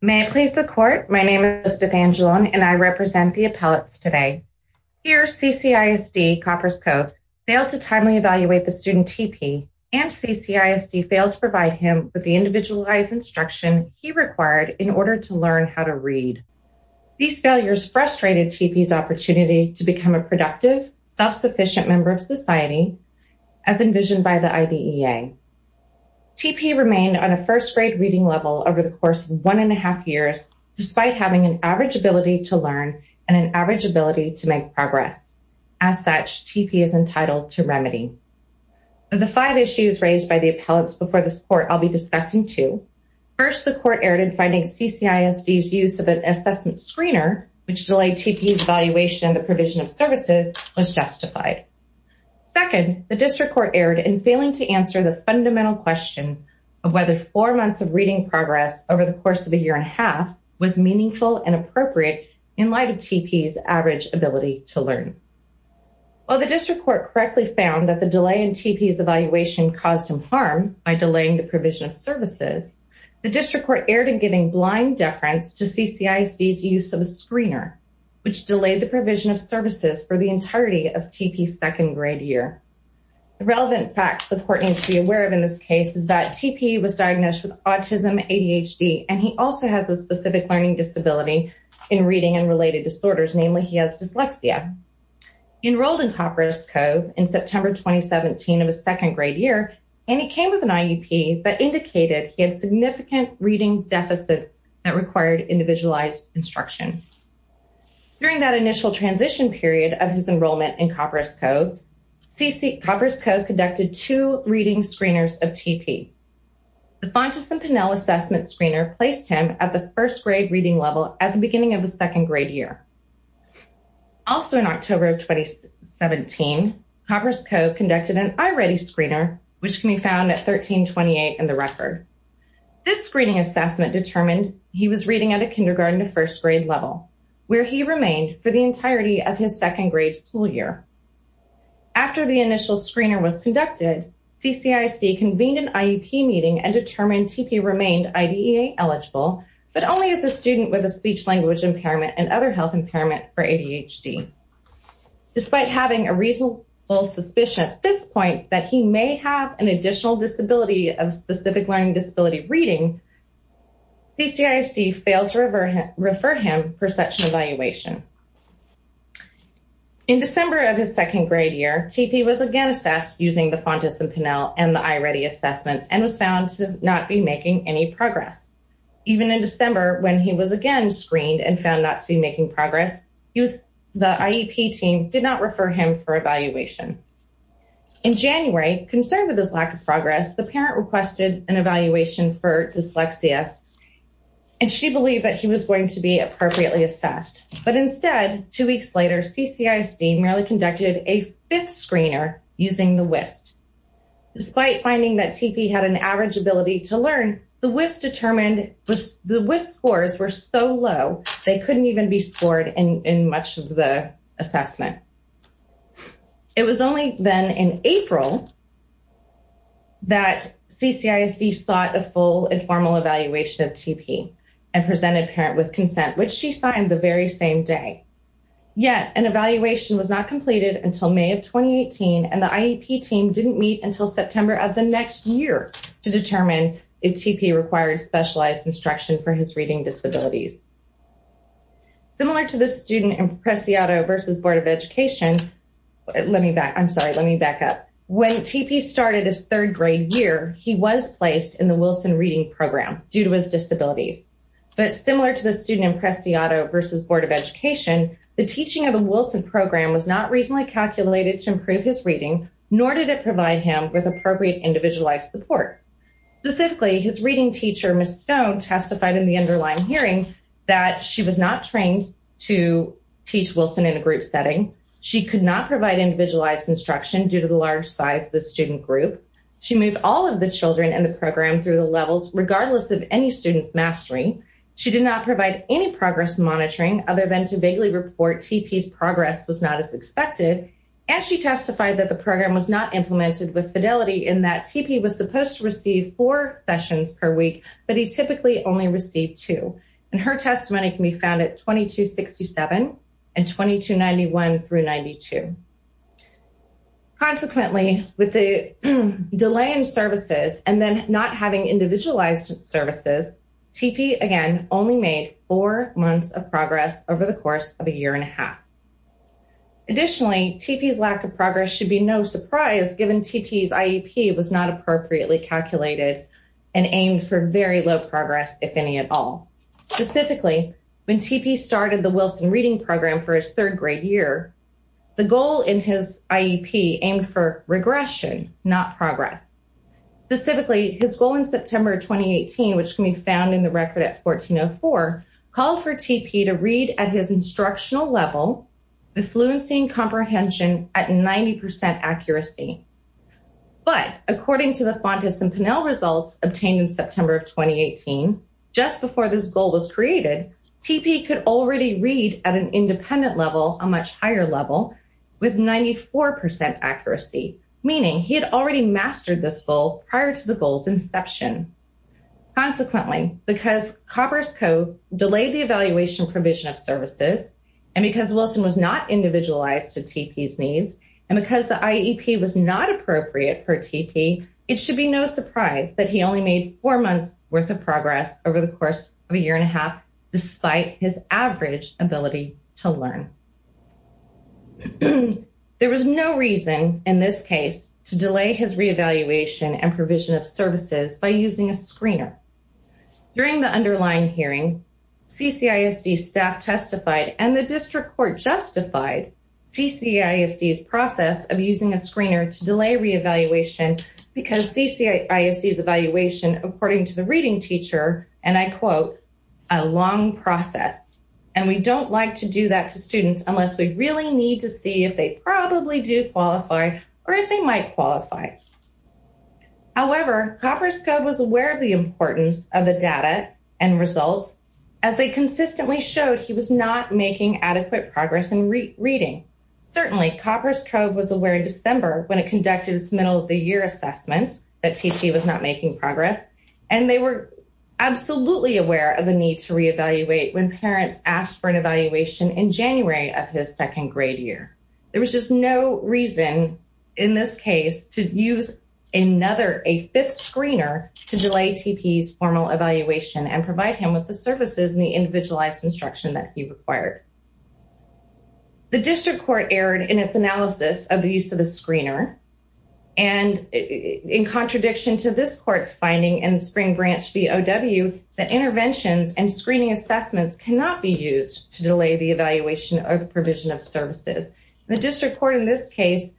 May it please the court, my name is Beth Angelone and I represent the appellates today. Here CCISD, Copperas Cove, failed to timely evaluate the student T.P. and CCISD failed to provide him with the individualized instruction he required in order to learn how to read. These failures frustrated T.P.'s opportunity to become a productive, self-sufficient member of society, as envisioned by the IDEA. T.P. remained on a first-grade reading level over the course of one and a half years, despite having an average ability to learn and an average ability to make progress. As such, T.P. is entitled to remedy. Of the five issues raised by the appellates before this court, I'll be discussing two. First, the court erred in finding CCISD's use of an assessment screener, which delayed T.P.'s evaluation of the provision of services, was justified. Second, the district court erred in failing to answer the fundamental question of whether four months of reading progress over the course of a year and a half was meaningful and appropriate in light of T.P.'s average ability to learn. While the district court correctly found that the delay in T.P.'s evaluation caused him harm by delaying the provision of services, the district court erred in giving blind deference to CCISD's use of a screener, which delayed the provision of services for the entirety of T.P.'s second-grade year. The relevant facts the court needs to be aware of in this case is that T.P. was diagnosed with autism, ADHD, and he also has a specific learning disability in reading and related disorders. Namely, he has dyslexia. He enrolled in Copperhead's Cove in September 2017 of his second-grade year, and he came with an IEP that indicated he had significant reading deficits that required individualized instruction. During that initial transition period of his enrollment in Copperhead's Cove, Copperhead's Cove conducted two reading screeners of T.P. The Fontas and Pinnell assessment screener placed him at the first-grade reading level at the beginning of the second-grade year. Also in October of 2017, Copperhead's Cove conducted an eye-ready screener, which can be found at 1328 in the record. This screening assessment determined he was reading at a kindergarten to first-grade level, where he remained for the entirety of his second-grade school year. After the initial screener was conducted, CCISD convened an IEP meeting and determined T.P. remained IDEA eligible, but only as a student with a speech-language impairment and other health impairment for ADHD. Despite having a reasonable suspicion at this point that he may have an additional disability of specific learning disability reading, CCISD failed to refer him for such an evaluation. In December of his second-grade year, T.P. was again assessed using the Fontas and Pinnell and the eye-ready assessments and was found to not be making any progress. Even in December, when he was again screened and found not to be making progress, the IEP team did not refer him for evaluation. In January, concerned with his lack of progress, the parent requested an evaluation for dyslexia, and she believed that he was going to be appropriately assessed. But instead, two weeks later, CCISD merely conducted a fifth screener using the WIST. Despite finding that T.P. had an average ability to learn, the WIST scores were so low, they couldn't even be scored in much of the assessment. It was only then in April that CCISD sought a full and formal evaluation of T.P. and presented parent with consent, which she signed the very same day. Yet, an evaluation was not completed until May of 2018, and the IEP team didn't meet until September of the next year to determine if T.P. required specialized instruction for his reading disabilities. Similar to the student in Preciado v. Board of Education, when T.P. started his third-grade year, he was placed in the Wilson Reading Program due to his disabilities. But similar to the student in Preciado v. Board of Education, the teaching of the Wilson Program was not reasonably calculated to improve his reading, nor did it provide him with appropriate individualized support. Specifically, his reading teacher, Ms. Stone, testified in the underlying hearing that she was not trained to teach Wilson in a group setting. She could not provide individualized instruction due to the large size of the student group. She moved all of the children in the program through the levels, regardless of any student's mastering. She did not provide any progress monitoring, other than to vaguely report T.P.'s progress was not as expected. And she testified that the program was not implemented with fidelity, in that T.P. was supposed to receive four sessions per week, but he typically only received two. And her testimony can be found at 2267 and 2291-92. Consequently, with the delay in services and then not having individualized services, T.P., again, only made four months of progress over the course of a year and a half. Additionally, T.P.'s lack of progress should be no surprise, given T.P.'s IEP was not appropriately calculated and aimed for very low progress, if any at all. Specifically, when T.P. started the Wilson Reading Program for his third-grade year, the goal in his IEP aimed for regression, not progress. Specifically, his goal in September of 2018, which can be found in the record at 1404, called for T.P. to read at his instructional level, with fluency and comprehension at 90% accuracy. But, according to the Fontas and Pinnell results obtained in September of 2018, just before this goal was created, T.P. could already read at an independent level, a much higher level, with 94% accuracy. Meaning, he had already mastered this goal prior to the goal's inception. Consequently, because Copper's Code delayed the evaluation provision of services, and because Wilson was not individualized to T.P.'s needs, and because the IEP was not appropriate for T.P., it should be no surprise that he only made four months worth of progress over the course of a year and a half, despite his average ability to learn. There was no reason, in this case, to delay his re-evaluation and provision of services by using a screener. During the underlying hearing, CCISD staff testified, and the District Court justified, CCISD's process of using a screener to delay re-evaluation, because CCISD's evaluation, according to the reading teacher, and I quote, a long process, and we don't like to do that to students unless we really need to see if they probably do qualify, or if they might qualify. However, Copper's Code was aware of the importance of the data and results, as they consistently showed he was not making adequate progress in reading. Certainly, Copper's Code was aware in December, when it conducted its middle-of-the-year assessments, that T.P. was not making progress, and they were absolutely aware of the need to re-evaluate when parents asked for an evaluation in January of his second grade year. There was just no reason, in this case, to use another, a fifth screener, to delay T.P.'s formal evaluation and provide him with the services and the individualized instruction that he required. The District Court erred in its analysis of the use of the screener, and in contradiction to this Court's finding in Spring Branch v. O.W., that interventions and screening assessments cannot be used to delay the evaluation or the provision of services. The District Court, in this case,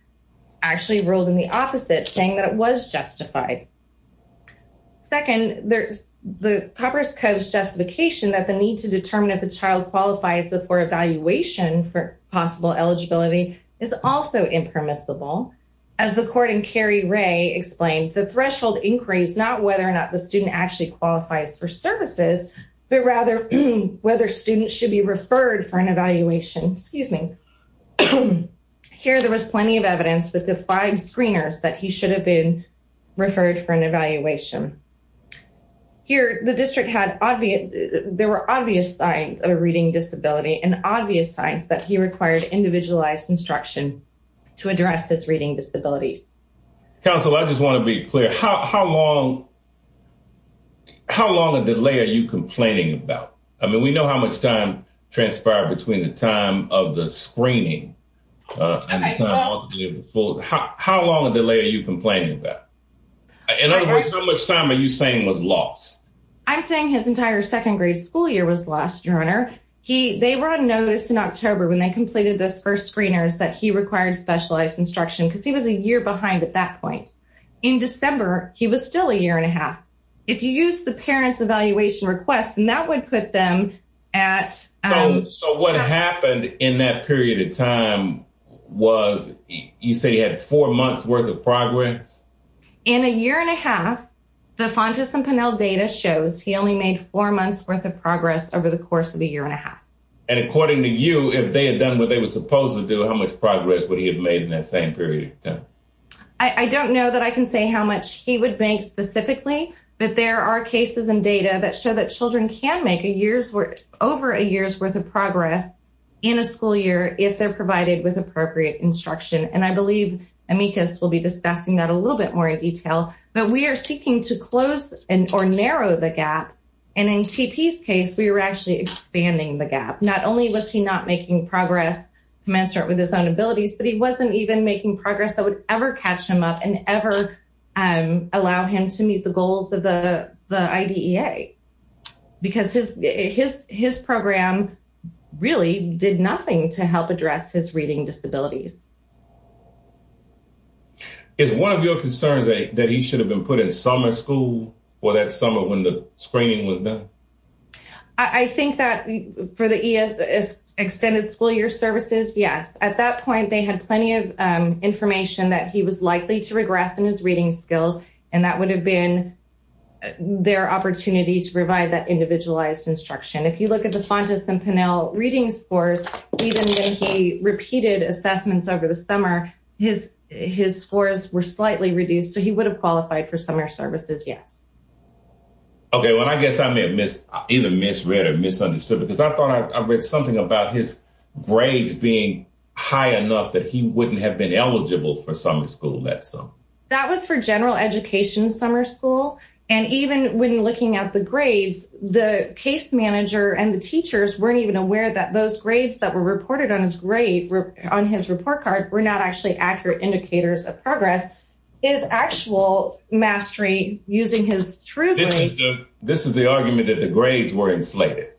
actually ruled in the opposite, saying that it was justified. Second, the Copper's Code's justification that the need to determine if a child qualifies before evaluation for possible eligibility is also impermissible. As the court in Cary Ray explained, the threshold increase, not whether or not the student actually qualifies for services, but rather whether students should be referred for an evaluation. Excuse me. Here there was plenty of evidence with the five screeners that he should have been referred for an evaluation. Here the district had obvious, there were obvious signs of a reading disability and obvious signs that he required individualized instruction to address his reading disability. Counsel, I just want to be clear. How long a delay are you complaining about? I mean, we know how much time transpired between the time of the screening and the time of the full. How long a delay are you complaining about? In other words, how much time are you saying was lost? I'm saying his entire second grade school year was lost, Your Honor. They were on notice in October when they completed those first screeners that he required specialized instruction because he was a year behind at that point. In December, he was still a year and a half. If you use the parent's evaluation request, then that would put them at. So what happened in that period of time was you say he had four months worth of progress? In a year and a half. The Fontas and Pennell data shows he only made four months worth of progress over the course of a year and a half. And according to you, if they had done what they were supposed to do, how much progress would he have made in that same period of time? I don't know that I can say how much he would make specifically, but there are cases and data that show that children can make over a year's worth of progress in a school year if they're provided with appropriate instruction. And I believe Amicus will be discussing that a little bit more in detail. But we are seeking to close or narrow the gap. And in T.P.'s case, we were actually expanding the gap. Not only was he not making progress commensurate with his own abilities, but he wasn't even making progress that would ever catch him up and ever allow him to meet the goals of the IDEA. Because his program really did nothing to help address his reading disabilities. Is one of your concerns that he should have been put in summer school or that summer when the screening was done? I think that for the extended school year services, yes. At that point, they had plenty of information that he was likely to regress in his reading skills, and that would have been their opportunity to provide that individualized instruction. If you look at the Fontas and Pinnell reading scores, even when he repeated assessments over the summer, his scores were slightly reduced. So he would have qualified for summer services, yes. Okay. Well, I guess I may have either misread or misunderstood, because I thought I read something about his grades being high enough that he wouldn't have been eligible for summer school that summer. That was for general education summer school. And even when looking at the grades, the case manager and the teachers weren't even aware that those grades that were reported on his report card were not actually accurate indicators of progress. His actual mastery using his true grades. This is the argument that the grades were inflated.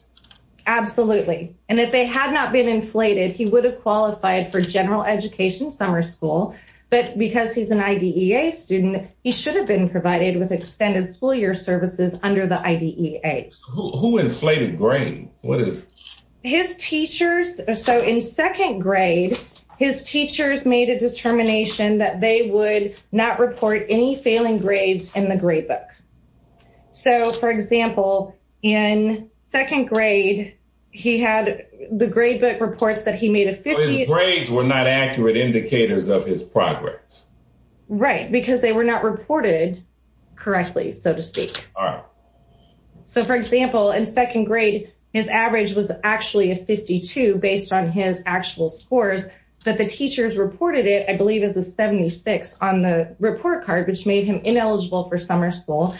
Absolutely. And if they had not been inflated, he would have qualified for general education summer school. But because he's an IDEA student, he should have been provided with extended school year services under the IDEA. Who inflated grades? His teachers. So in second grade, his teachers made a determination that they would not report any failing grades in the gradebook. So, for example, in second grade, he had the gradebook reports that he made a 50. Grades were not accurate indicators of his progress. Right, because they were not reported correctly, so to speak. So, for example, in second grade, his average was actually a 52 based on his actual scores. But the teachers reported it, I believe, as a 76 on the report card, which made him ineligible for summer school.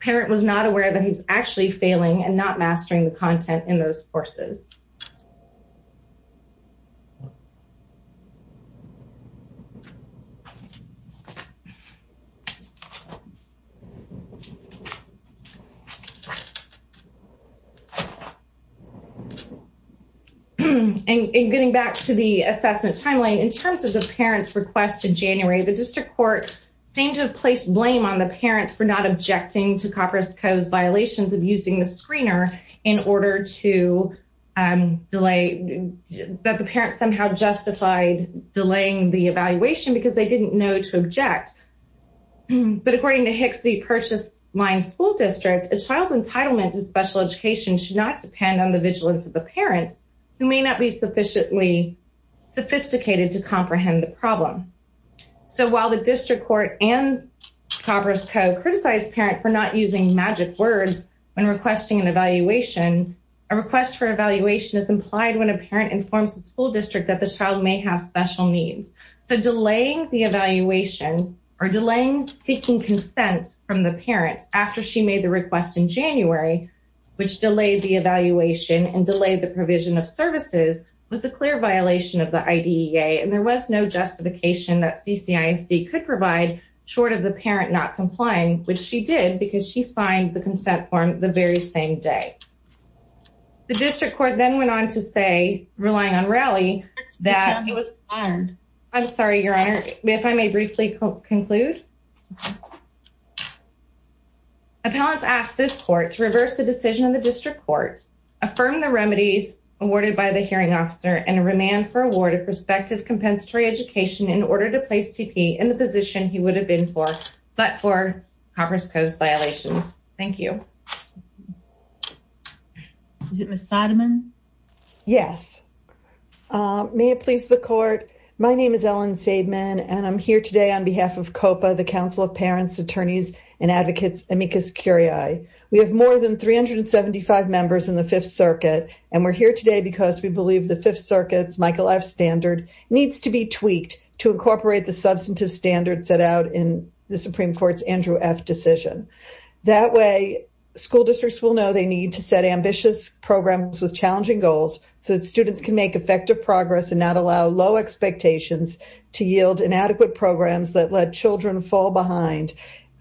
Parent was not aware that he was actually failing and not mastering the content in those courses. And getting back to the assessment timeline, in terms of the parents' request in January, the district court seemed to have placed blame on the parents for not objecting to Copper's Co.'s violations of using the screener in order to delay, that the parents somehow justified delaying the evaluation because they didn't know to object. But according to Hicksey Purchase Line School District, a child's entitlement to special education should not depend on the vigilance of the parents, who may not be sufficiently sophisticated to comprehend the problem. So while the district court and Copper's Co. criticized the parent for not using magic words when requesting an evaluation, a request for evaluation is implied when a parent informs the school district that the child may have special needs. So delaying the evaluation or delaying seeking consent from the parent after she made the request in January, which delayed the evaluation and delayed the provision of services, was a clear violation of the IDEA. And there was no justification that CCISD could provide short of the parent not complying, which she did because she signed the consent form the very same day. The district court then went on to say, relying on Raleigh, that... I'm sorry, Your Honor, if I may briefly conclude. Appellants asked this court to reverse the decision of the district court, affirm the remedies awarded by the hearing officer, and remand for award of prospective compensatory education in order to place T.P. in the position he would have been for, but for Copper's Co.'s violations. Thank you. Is it Ms. Seidman? Yes. May it please the court, my name is Ellen Seidman, and I'm here today on behalf of COPA, the Council of Parents, Attorneys, and Advocates, amicus curiae. We have more than 375 members in the Fifth Circuit, and we're here today because we believe the Fifth Circuit's Michael F. standard needs to be tweaked to incorporate the substantive standards set out in the Supreme Court's Andrew F. decision. That way, school districts will know they need to set ambitious programs with challenging goals so that students can make effective progress and not allow low expectations to yield inadequate programs that let children fall behind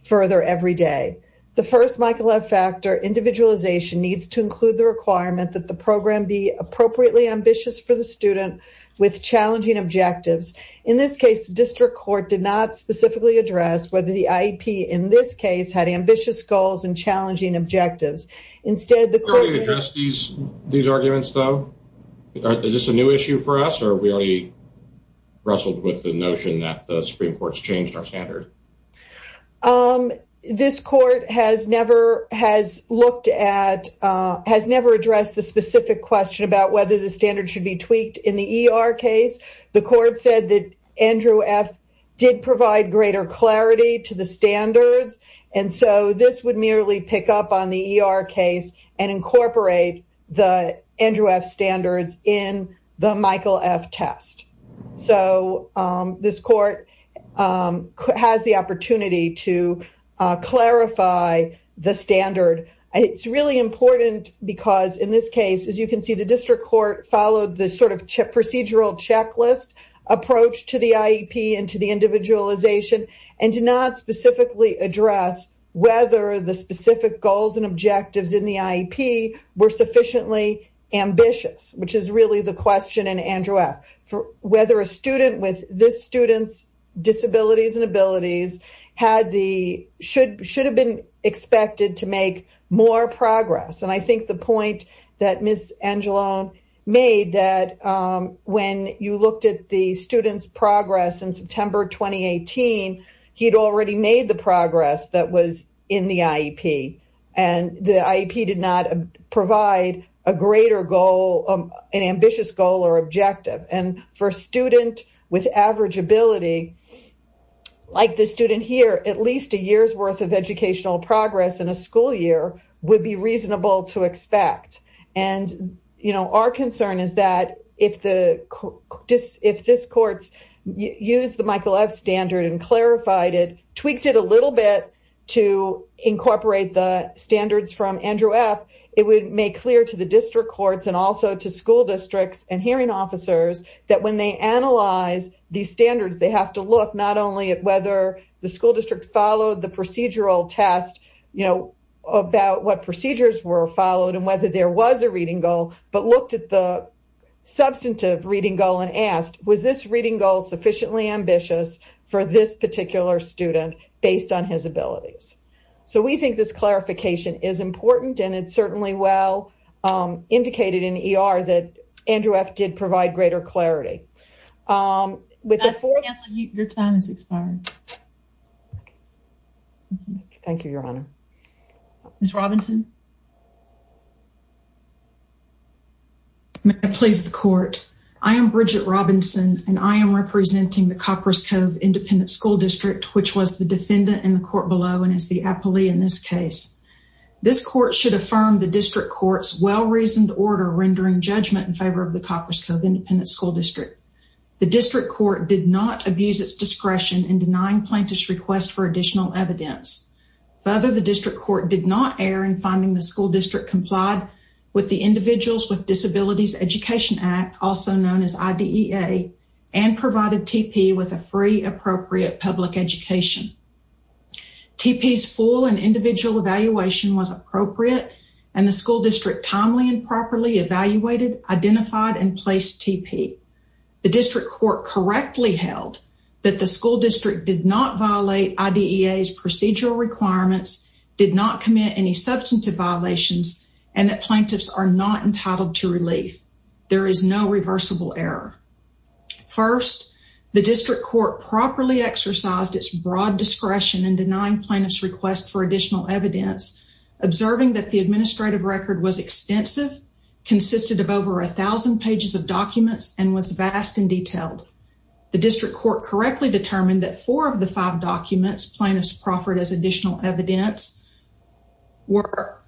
further every day. The first Michael F. factor, individualization, needs to include the requirement that the program be appropriately ambitious for the student with challenging objectives. In this case, the district court did not specifically address whether the IEP in this case had ambitious goals and challenging objectives. Instead, the court- Have you already addressed these arguments, though? Is this a new issue for us, or have we already wrestled with the notion that the Supreme Court's changed our standard? This court has never addressed the specific question about whether the standard should be tweaked. In the E.R. case, the court said that Andrew F. did provide greater clarity to the standards, and so this would merely pick up on the E.R. case and incorporate the Andrew F. standards in the Michael F. test. So this court has the opportunity to clarify the standard. It's really important because in this case, as you can see, the district court followed the sort of procedural checklist approach to the IEP and to the individualization and did not specifically address whether the specific goals and objectives in the IEP were sufficiently ambitious, which is really the question in Andrew F. Whether a student with this student's disabilities and abilities had the- should have been expected to make more progress. And I think the point that Ms. Angelone made that when you looked at the student's progress in September 2018, he had already made the progress that was in the IEP, and the IEP did not provide a greater goal, an ambitious goal or objective. And for a student with average ability, like the student here, at least a year's worth of educational progress in a school year would be reasonable to expect. And, you know, our concern is that if this court used the Michael F. standard and clarified it, tweaked it a little bit to incorporate the standards from Andrew F., it would make clear to the district courts and also to school districts and hearing officers that when they analyze these standards, they have to look not only at whether the school district followed the procedural test, you know, about what procedures were followed and whether there was a reading goal, but looked at the substantive reading goal and asked, was this reading goal sufficiently ambitious for this particular student based on his abilities? So we think this clarification is important and it's certainly well indicated in E.R. that Andrew F. did provide greater clarity. Your time has expired. Thank you, Your Honor. Ms. Robinson? May I please the court? I am Bridget Robinson, and I am representing the Copperas Cove Independent School District, which was the defendant in the court below and is the appellee in this case. This court should affirm the district court's well-reasoned order rendering judgment in favor of the Copperas Cove Independent School District. The district court did not abuse its discretion in denying plaintiff's request for additional evidence. Further, the district court did not err in finding the school district complied with the Individuals with Disabilities Education Act, also known as IDEA, and provided T.P. with a free, appropriate public education. T.P.'s full and individual evaluation was appropriate, and the school district timely and properly evaluated, identified, and placed T.P. The district court correctly held that the school district did not violate IDEA's procedural requirements, did not commit any substantive violations, and that plaintiffs are not entitled to relief. There is no reversible error. First, the district court properly exercised its broad discretion in denying plaintiff's request for additional evidence, observing that the administrative record was extensive, consisted of over 1,000 pages of documents, and was vast and detailed. The district court correctly determined that four of the five documents plaintiffs proffered as additional evidence were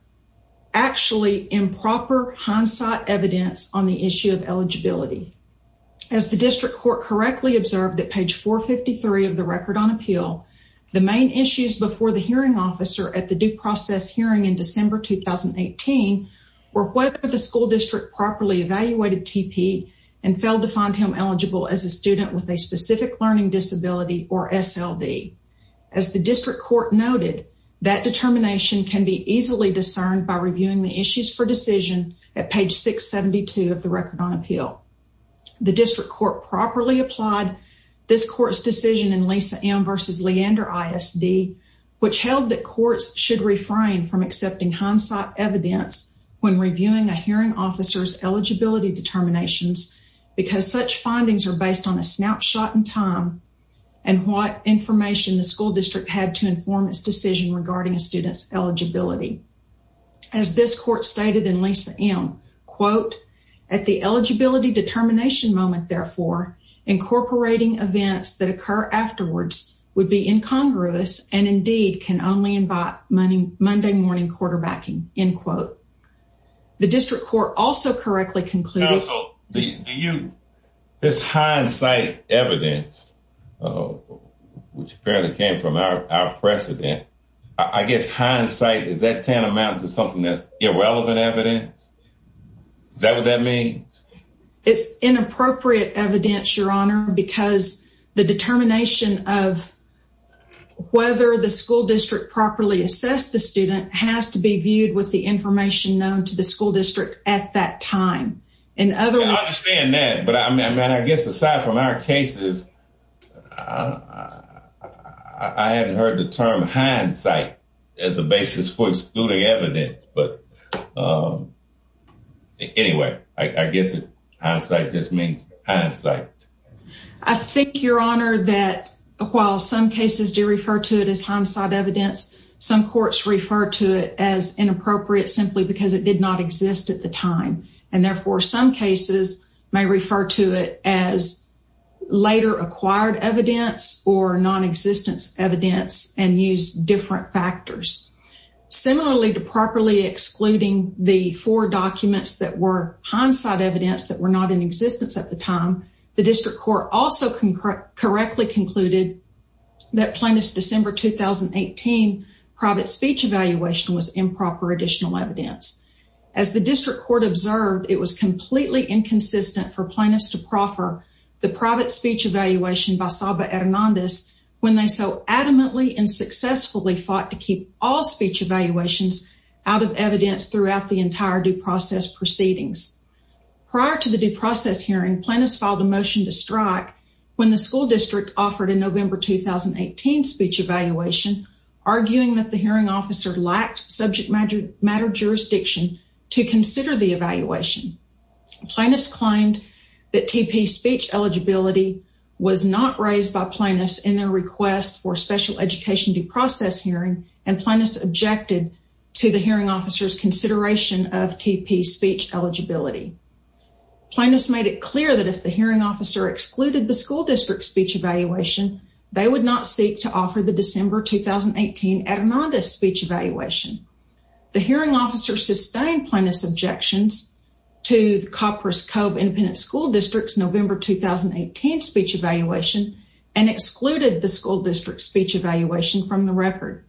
actually improper hindsight evidence on the issue of eligibility. As the district court correctly observed at page 453 of the Record on Appeal, the main issues before the hearing officer at the due process hearing in December 2018 were whether the school district properly evaluated T.P. and failed to find him eligible as a student with a specific learning disability, or SLD. As the district court noted, that determination can be easily discerned by reviewing the issues for decision at page 672 of the Record on Appeal. The district court properly applied this court's decision in Lisa M. v. Leander ISD, which held that courts should refrain from accepting hindsight evidence when reviewing a hearing officer's eligibility determinations because such findings are based on a snapshot in time and what information the school district had to inform its decision regarding a student's eligibility. As this court stated in Lisa M., quote, at the eligibility determination moment, therefore, incorporating events that occur afterwards would be incongruous and indeed can only invite Monday morning quarterbacking, end quote. The district court also correctly concluded... Counsel, this hindsight evidence, which apparently came from our precedent, I guess hindsight, is that tantamount to something that's irrelevant evidence? Is that what that means? It's inappropriate evidence, Your Honor, because the determination of whether the school district properly assessed the student has to be viewed with the information known to the school district at that time. I understand that, but I guess aside from our cases, I haven't heard the term hindsight as a basis for excluding evidence. But anyway, I guess hindsight just means hindsight. I think, Your Honor, that while some cases do refer to it as hindsight evidence, some courts refer to it as inappropriate simply because it did not exist at the time, and therefore some cases may refer to it as later acquired evidence or nonexistence evidence and use different factors. Similarly to properly excluding the four documents that were hindsight evidence that were not in existence at the time, the district court also correctly concluded that plaintiff's December 2018 private speech evaluation was improper additional evidence. As the district court observed, it was completely inconsistent for plaintiffs to proffer the private speech evaluation by Saba Hernandez when they so adamantly and successfully fought to keep all speech evaluations out of evidence throughout the entire due process proceedings. Prior to the due process hearing, plaintiffs filed a motion to strike when the school district offered a November 2018 speech evaluation, arguing that the hearing officer lacked subject matter jurisdiction to consider the evaluation. Plaintiffs claimed that TP speech eligibility was not raised by plaintiffs in their request for special education due process hearing, and plaintiffs objected to the hearing officer's consideration of TP speech eligibility. Plaintiffs made it clear that if the hearing officer excluded the school district speech evaluation, they would not seek to offer the December 2018 Hernandez speech evaluation. The hearing officer sustained plaintiff's objections to the Coppers Cove Independent School District's November 2018 speech evaluation and excluded the school district's speech evaluation from the record.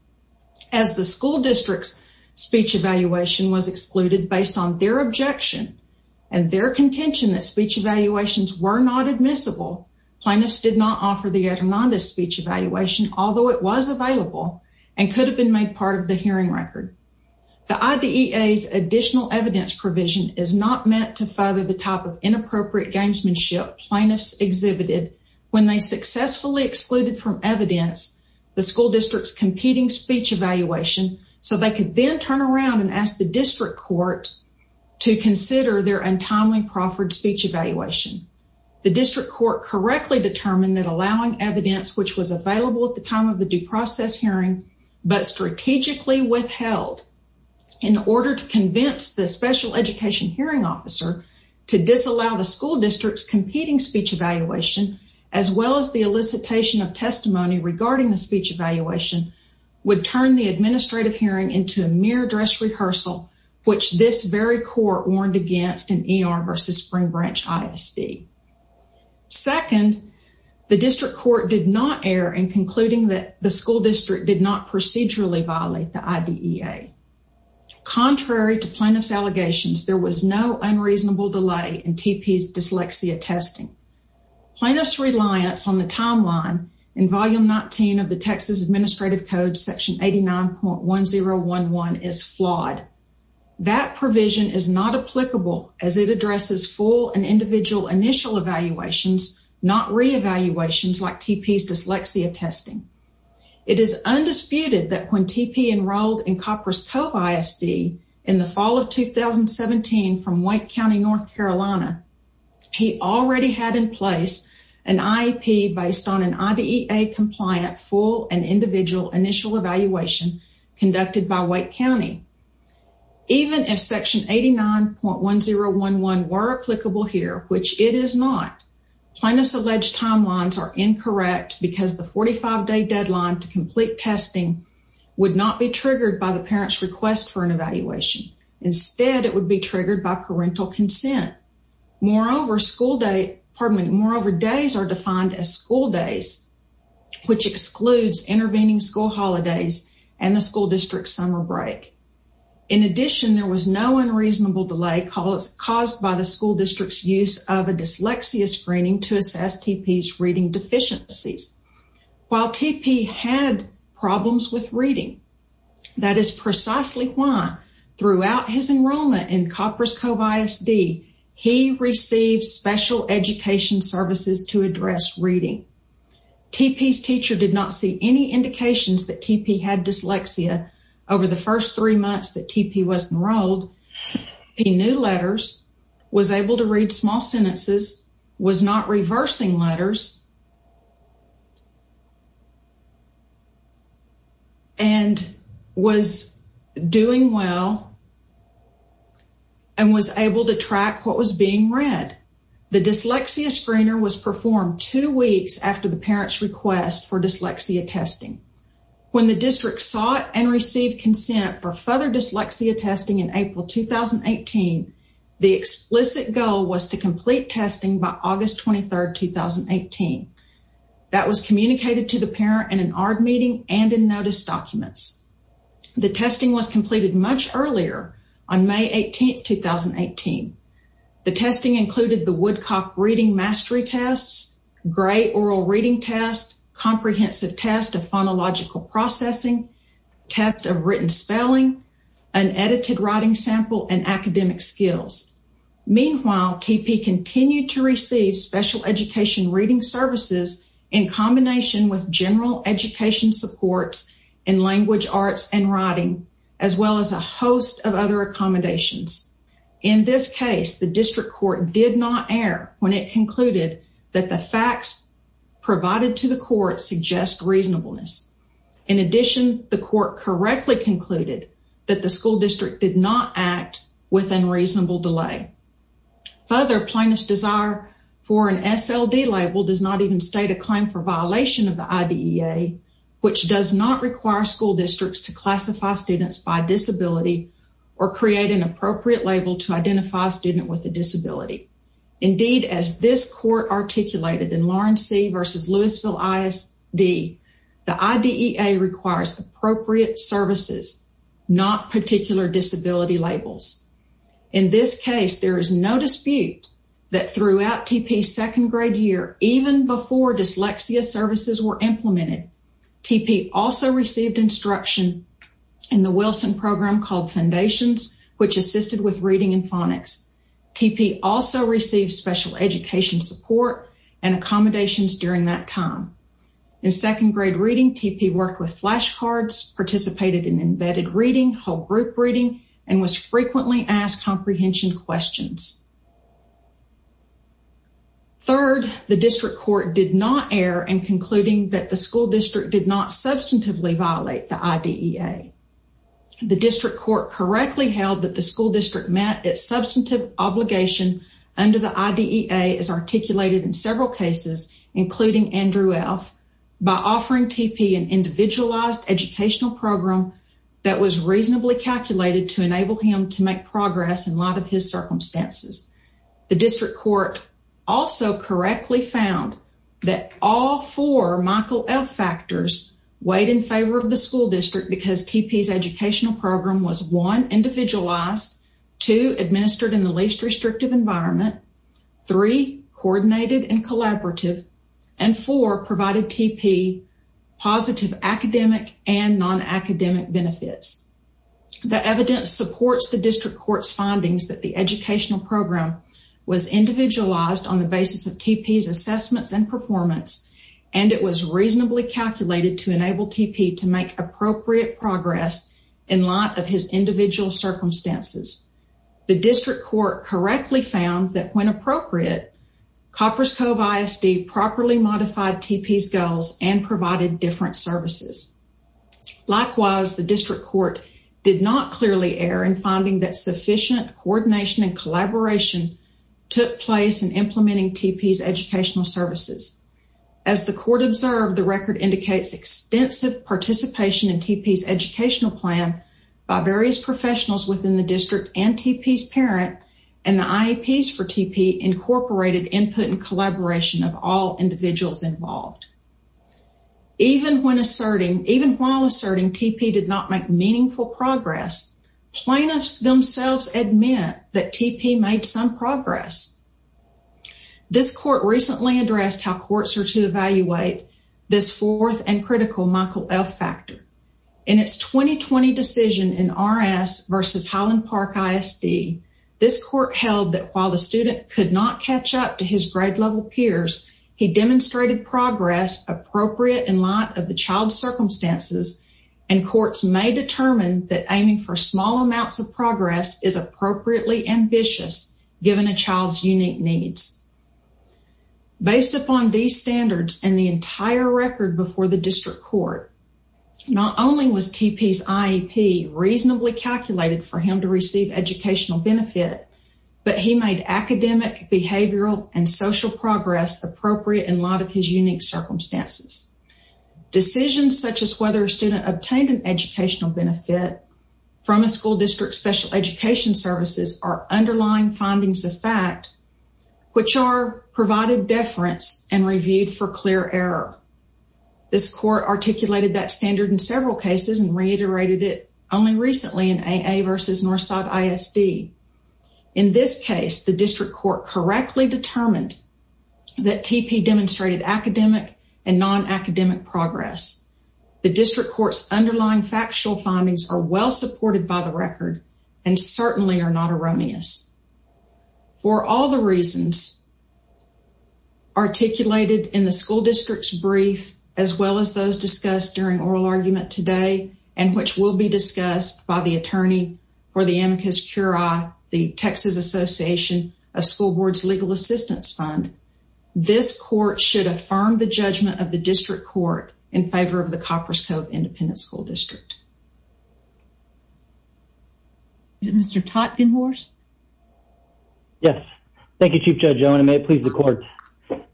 As the school district's speech evaluation was excluded based on their objection and their contention that speech evaluations were not admissible, plaintiffs did not offer the Hernandez speech evaluation, although it was available and could have been made part of the hearing record. The IDEA's additional evidence provision is not meant to further the type of inappropriate gamesmanship plaintiffs exhibited when they successfully excluded from evidence the school district's competing speech evaluation so they could then turn around and ask the district court to consider their untimely proffered speech evaluation. The district court correctly determined that allowing evidence which was available at the time of the due process hearing, but strategically withheld in order to convince the special education hearing officer to disallow the school district's competing speech evaluation, as well as the elicitation of testimony regarding the speech evaluation, would turn the administrative hearing into a mere dress rehearsal, which this very court warned against in ER versus Spring Branch ISD. Second, the district court did not err in concluding that the school district did not procedurally violate the IDEA. Contrary to plaintiff's allegations, there was no unreasonable delay in TP's dyslexia testing. Plaintiff's reliance on the timeline in Volume 19 of the Texas Administrative Code Section 89.1011 is flawed. That provision is not applicable as it addresses full and individual initial evaluations, not re-evaluations like TP's dyslexia testing. It is undisputed that when TP enrolled in Copperas Cove ISD in the fall of 2017 from Wake County, North Carolina, he already had in place an IEP based on an IDEA compliant full and individual initial evaluation conducted by Wake County. Even if Section 89.1011 were applicable here, which it is not, plaintiff's alleged timelines are incorrect because the 45-day deadline to complete testing would not be triggered by the parent's request for an evaluation. Instead, it would be triggered by parental consent. Moreover, days are defined as school days, which excludes intervening school holidays and the school district's summer break. In addition, there was no unreasonable delay caused by the school district's use of a dyslexia screening to assess TP's reading deficiencies. While TP had problems with reading, that is precisely why throughout his enrollment in Copperas Cove ISD, he received special education services to address reading. TP's teacher did not see any indications that TP had dyslexia over the first three months that TP was enrolled. He knew letters, was able to read small sentences, was not reversing letters, and was doing well and was able to track what was being read. The dyslexia screener was performed two weeks after the parent's request for dyslexia testing. When the district sought and received consent for further dyslexia testing in April 2018, the explicit goal was to complete testing by August 23, 2018. That was communicated to the parent in an ARD meeting and in notice documents. The testing was completed much earlier, on May 18, 2018. The testing included the Woodcock Reading Mastery Tests, Gray Oral Reading Test, Comprehensive Test of Phonological Processing, Test of Written Spelling, an edited writing sample, and academic skills. Meanwhile, TP continued to receive special education reading services in combination with general education supports in language arts and writing, as well as a host of other accommodations. In this case, the district court did not err when it concluded that the facts provided to the court suggest reasonableness. In addition, the court correctly concluded that the school district did not act with unreasonable delay. Further, plaintiff's desire for an SLD label does not even state a claim for violation of the IDEA, which does not require school districts to classify students by disability or create an appropriate label to identify a student with a disability. Indeed, as this court articulated in Lawrence C. v. Louisville ISD, the IDEA requires appropriate services, not particular disability labels. In this case, there is no dispute that throughout TP's second grade year, even before dyslexia services were implemented, TP also received instruction in the Wilson program called Foundations, which assisted with reading and phonics. TP also received special education support and accommodations during that time. In second grade reading, TP worked with flashcards, participated in embedded reading, whole group reading, and was frequently asked comprehension questions. Third, the district court did not err in concluding that the school district did not substantively violate the IDEA. The district court correctly held that the school district met its substantive obligation under the IDEA as articulated in several cases, including Andrew F., by offering TP an individualized educational program that was reasonably calculated to enable him to make progress in light of his circumstances. The district court also correctly found that all four Michael F. factors weighed in favor of the school district because TP's educational program was, one, individualized, two, administered in the least restrictive environment, three, coordinated and collaborative, and four, provided TP positive academic and non-academic benefits. The evidence supports the district court's findings that the educational program was individualized on the basis of TP's assessments and performance, and it was reasonably calculated to enable TP to make appropriate progress in light of his individual circumstances. The district court correctly found that, when appropriate, Coppers Cove ISD properly modified TP's goals and provided different services. Likewise, the district court did not clearly err in finding that sufficient coordination and collaboration took place in implementing TP's educational services. As the court observed, the record indicates extensive participation in TP's educational plan by various professionals within the district and TP's parent, and the IEPs for TP incorporated input and collaboration of all individuals involved. Even while asserting TP did not make meaningful progress, plaintiffs themselves admit that TP made some progress. This court recently addressed how courts are to evaluate this fourth and critical Michael F. factor. In its 2020 decision in RS versus Highland Park ISD, this court held that while the student could not catch up to his grade-level peers, he demonstrated progress appropriate in light of the child's circumstances, and courts may determine that aiming for small amounts of progress is appropriately ambitious given a child's unique needs. Based upon these standards and the entire record before the district court, not only was TP's IEP reasonably calculated for him to receive educational benefit, but he made academic, behavioral, and social progress appropriate in light of his unique circumstances. Decisions such as whether a student obtained an educational benefit from a school district's special education services are underlying findings of fact, which are provided deference and reviewed for clear error. This court articulated that standard in several cases and reiterated it only recently in AA versus Northside ISD. In this case, the district court correctly determined that TP demonstrated academic and non-academic progress. The district court's underlying factual findings are well supported by the record and certainly are not erroneous. For all the reasons articulated in the school district's brief, as well as those discussed during oral argument today, and which will be discussed by the attorney for the Amicus Curia, the Texas Association of School Boards Legal Assistance Fund, this court should affirm the judgment of the district court in favor of the Coppers Cove Independent School District. Is it Mr. Totgenhorst? Yes. Thank you, Chief Judge Owen. I may please the court.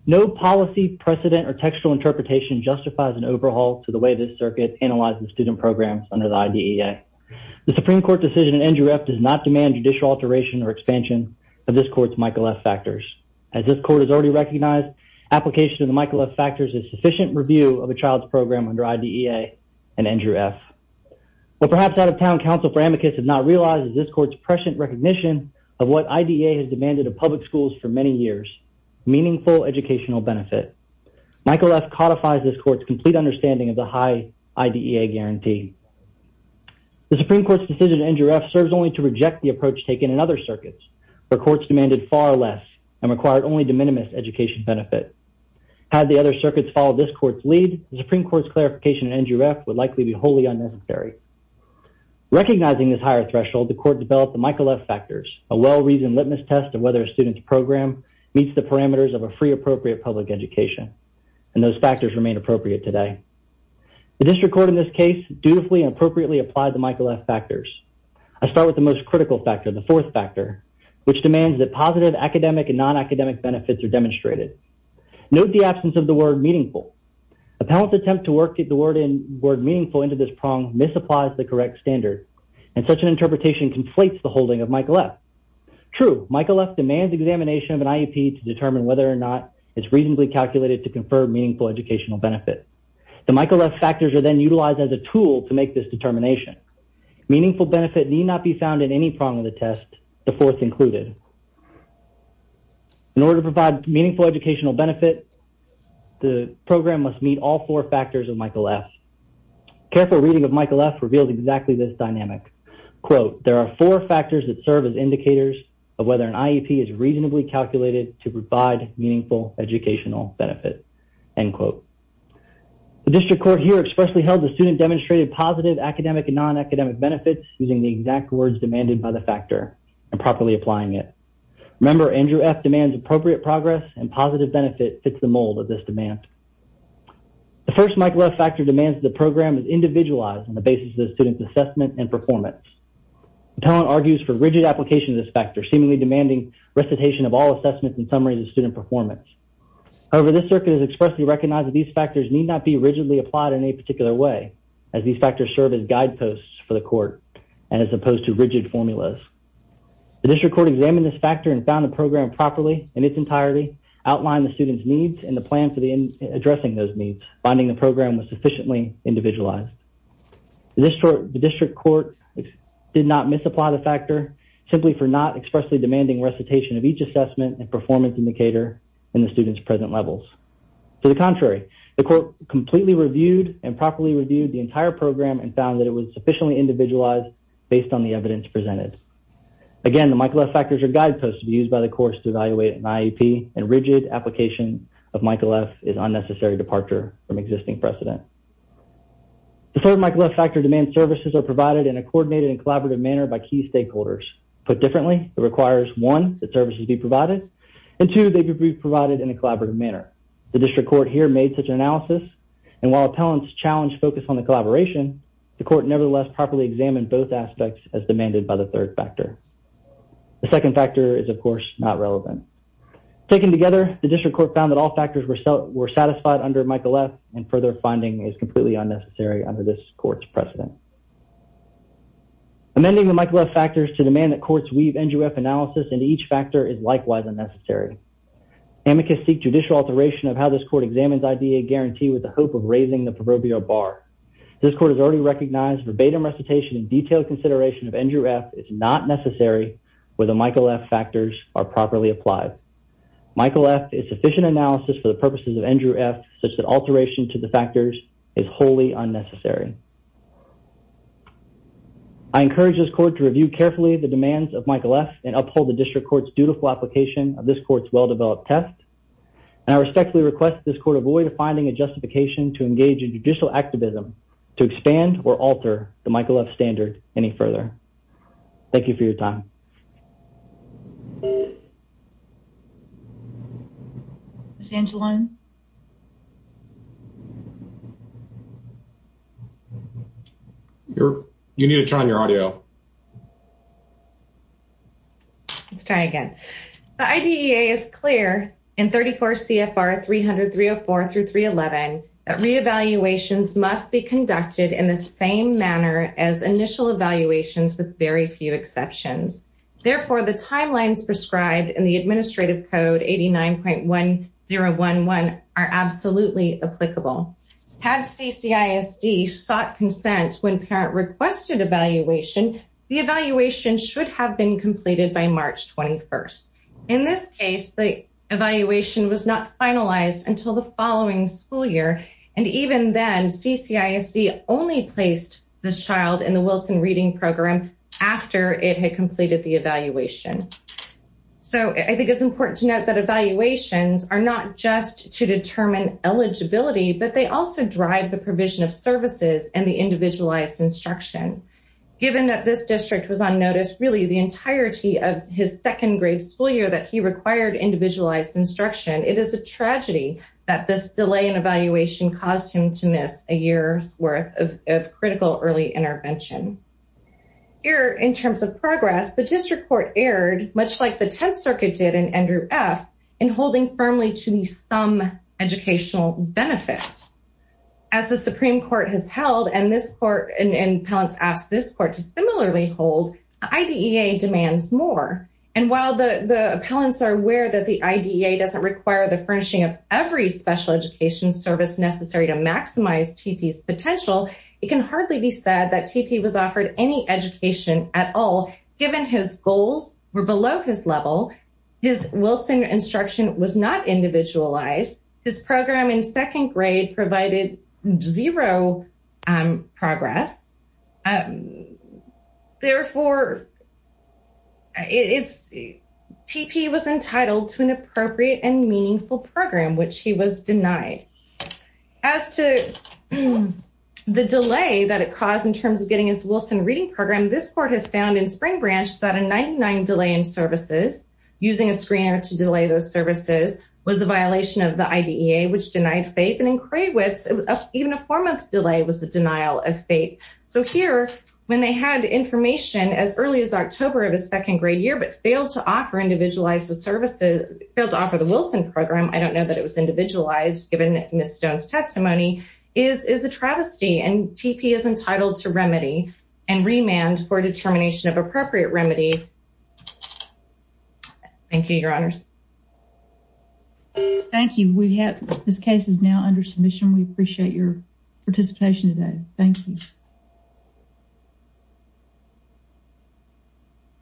No policy, precedent, or textual interpretation justifies an overhaul to the way this circuit analyzes student programs under the IDEA. The Supreme Court decision in Andrew F. does not demand judicial alteration or expansion of this court's Michael F. factors. As this court has already recognized, application of the Michael F. factors is sufficient review of a child's program under IDEA and Andrew F. What perhaps out-of-town counsel for Amicus has not realized is this court's prescient recognition of what IDEA has demanded of public schools for many years, meaningful educational benefit. Michael F. codifies this court's complete understanding of the high IDEA guarantee. The Supreme Court's decision in Andrew F. serves only to reject the approach taken in other circuits, where courts demanded far less and required only de minimis education benefit. Had the other circuits followed this court's lead, the Supreme Court's clarification in Andrew F. would likely be wholly unnecessary. Recognizing this higher threshold, the court developed the Michael F. factors, a well-reasoned litmus test of whether a student's program meets the parameters of a free, appropriate public education, and those factors remain appropriate today. The district court in this case dutifully and appropriately applied the Michael F. factors. I start with the most critical factor, the fourth factor, which demands that positive academic and non-academic benefits are demonstrated. Note the absence of the word meaningful. Appellant's attempt to work the word meaningful into this prong misapplies the correct standard, and such an interpretation conflates the holding of Michael F. True, Michael F. demands examination of an IEP to determine whether or not it's reasonably calculated to confer meaningful educational benefit. The Michael F. factors are then utilized as a tool to make this determination. Meaningful benefit need not be found in any prong of the test, the fourth included. In order to provide meaningful educational benefit, the program must meet all four factors of Michael F. Careful reading of Michael F. reveals exactly this dynamic. Quote, there are four factors that serve as indicators of whether an IEP is reasonably calculated to provide meaningful educational benefit. End quote. The district court here expressly held the student demonstrated positive academic and non-academic benefits using the exact words demanded by the factor, and properly applying it. Remember, Andrew F. demands appropriate progress, and positive benefit fits the mold of this demand. The first Michael F. factor demands the program is individualized on the basis of the student's assessment and performance. Appellant argues for rigid application of this factor, seemingly demanding recitation of all assessments and summaries of student performance. However, this circuit has expressly recognized that these factors need not be rigidly applied in any particular way, as these factors serve as guideposts for the court, and as opposed to rigid formulas. The district court examined this factor and found the program properly in its entirety, outlined the student's needs, and the plan for addressing those needs, finding the program was sufficiently individualized. The district court did not misapply the factor, simply for not expressly demanding recitation of each assessment and performance indicator, in the student's present levels. To the contrary, the court completely reviewed and properly reviewed the entire program, and found that it was sufficiently individualized based on the evidence presented. Again, the Michael F. factors are guideposts to be used by the courts to evaluate an IEP, and rigid application of Michael F. is unnecessary departure from existing precedent. The third Michael F. factor demands services are provided in a coordinated and collaborative manner by key stakeholders. Put differently, it requires, one, that services be provided, and two, they could be provided in a collaborative manner. The district court here made such an analysis, and while appellants challenged focus on the collaboration, the court nevertheless properly examined both aspects as demanded by the third factor. The second factor is, of course, not relevant. Taken together, the district court found that all factors were satisfied under Michael F., and further finding is completely unnecessary under this court's precedent. Amending the Michael F. factors to demand that courts weave Andrew F. analysis into each factor is likewise unnecessary. Amicus seek judicial alteration of how this court examines IDEA guarantee with the hope of raising the proverbial bar. This court has already recognized verbatim recitation and detailed consideration of Andrew F. is not necessary where the Michael F. factors are properly applied. Michael F. is sufficient analysis for the purposes of Andrew F. such that alteration to the factors is wholly unnecessary. I encourage this court to review carefully the demands of Michael F. and uphold the district court's dutiful application of this court's well-developed test, and I respectfully request this court avoid finding a justification to engage in judicial activism to expand or alter the Michael F. standard any further. Thank you for your time. Ms. Angeline? You need to turn on your audio. Let's try again. The IDEA is clear in 34 CFR 300-304-311 that re-evaluations must be conducted in the same manner as initial evaluations with very few exceptions. Therefore, the timelines prescribed in the Administrative Code 89.1011 are absolutely applicable. Had CCISD sought consent when parent requested evaluation, the evaluation should have been completed by March 21. In this case, the evaluation was not finalized until the following school year, and even then CCISD only placed this child in the Wilson Reading Program after it had completed the evaluation. So I think it's important to note that evaluations are not just to determine eligibility, but they also drive the provision of services and the individualized instruction. Given that this district was on notice really the entirety of his second-grade school year that he required individualized instruction, it is a tragedy that this delay in evaluation caused him to miss a year's worth of critical early intervention. Here, in terms of progress, the district court erred, much like the Tenth Circuit did in Andrew F., in holding firmly to the sum educational benefit. As the Supreme Court has held, and this court and appellants asked this court to similarly hold, the IDEA demands more. And while the appellants are aware that the IDEA doesn't require the furnishing of every special education service necessary to maximize TP's potential, it can hardly be said that TP was offered any education at all given his goals were below his level, his Wilson instruction was not individualized, his program in second grade provided zero progress. Therefore, TP was entitled to an appropriate and meaningful program, which he was denied. As to the delay that it caused in terms of getting his Wilson reading program, this court has found in Spring Branch that a 99 delay in services, using a screener to delay those services, was a violation of the IDEA, which denied faith. And in Kraywitz, even a four-month delay was a denial of faith. So here, when they had information as early as October of his second-grade year, but failed to offer individualized services, failed to offer the Wilson program, I don't know that it was individualized given Ms. Stone's testimony, is a travesty. And TP is entitled to remedy and remand for determination of appropriate remedy. Thank you, Your Honors. Thank you. This case is now under submission. We appreciate your participation today. Thank you.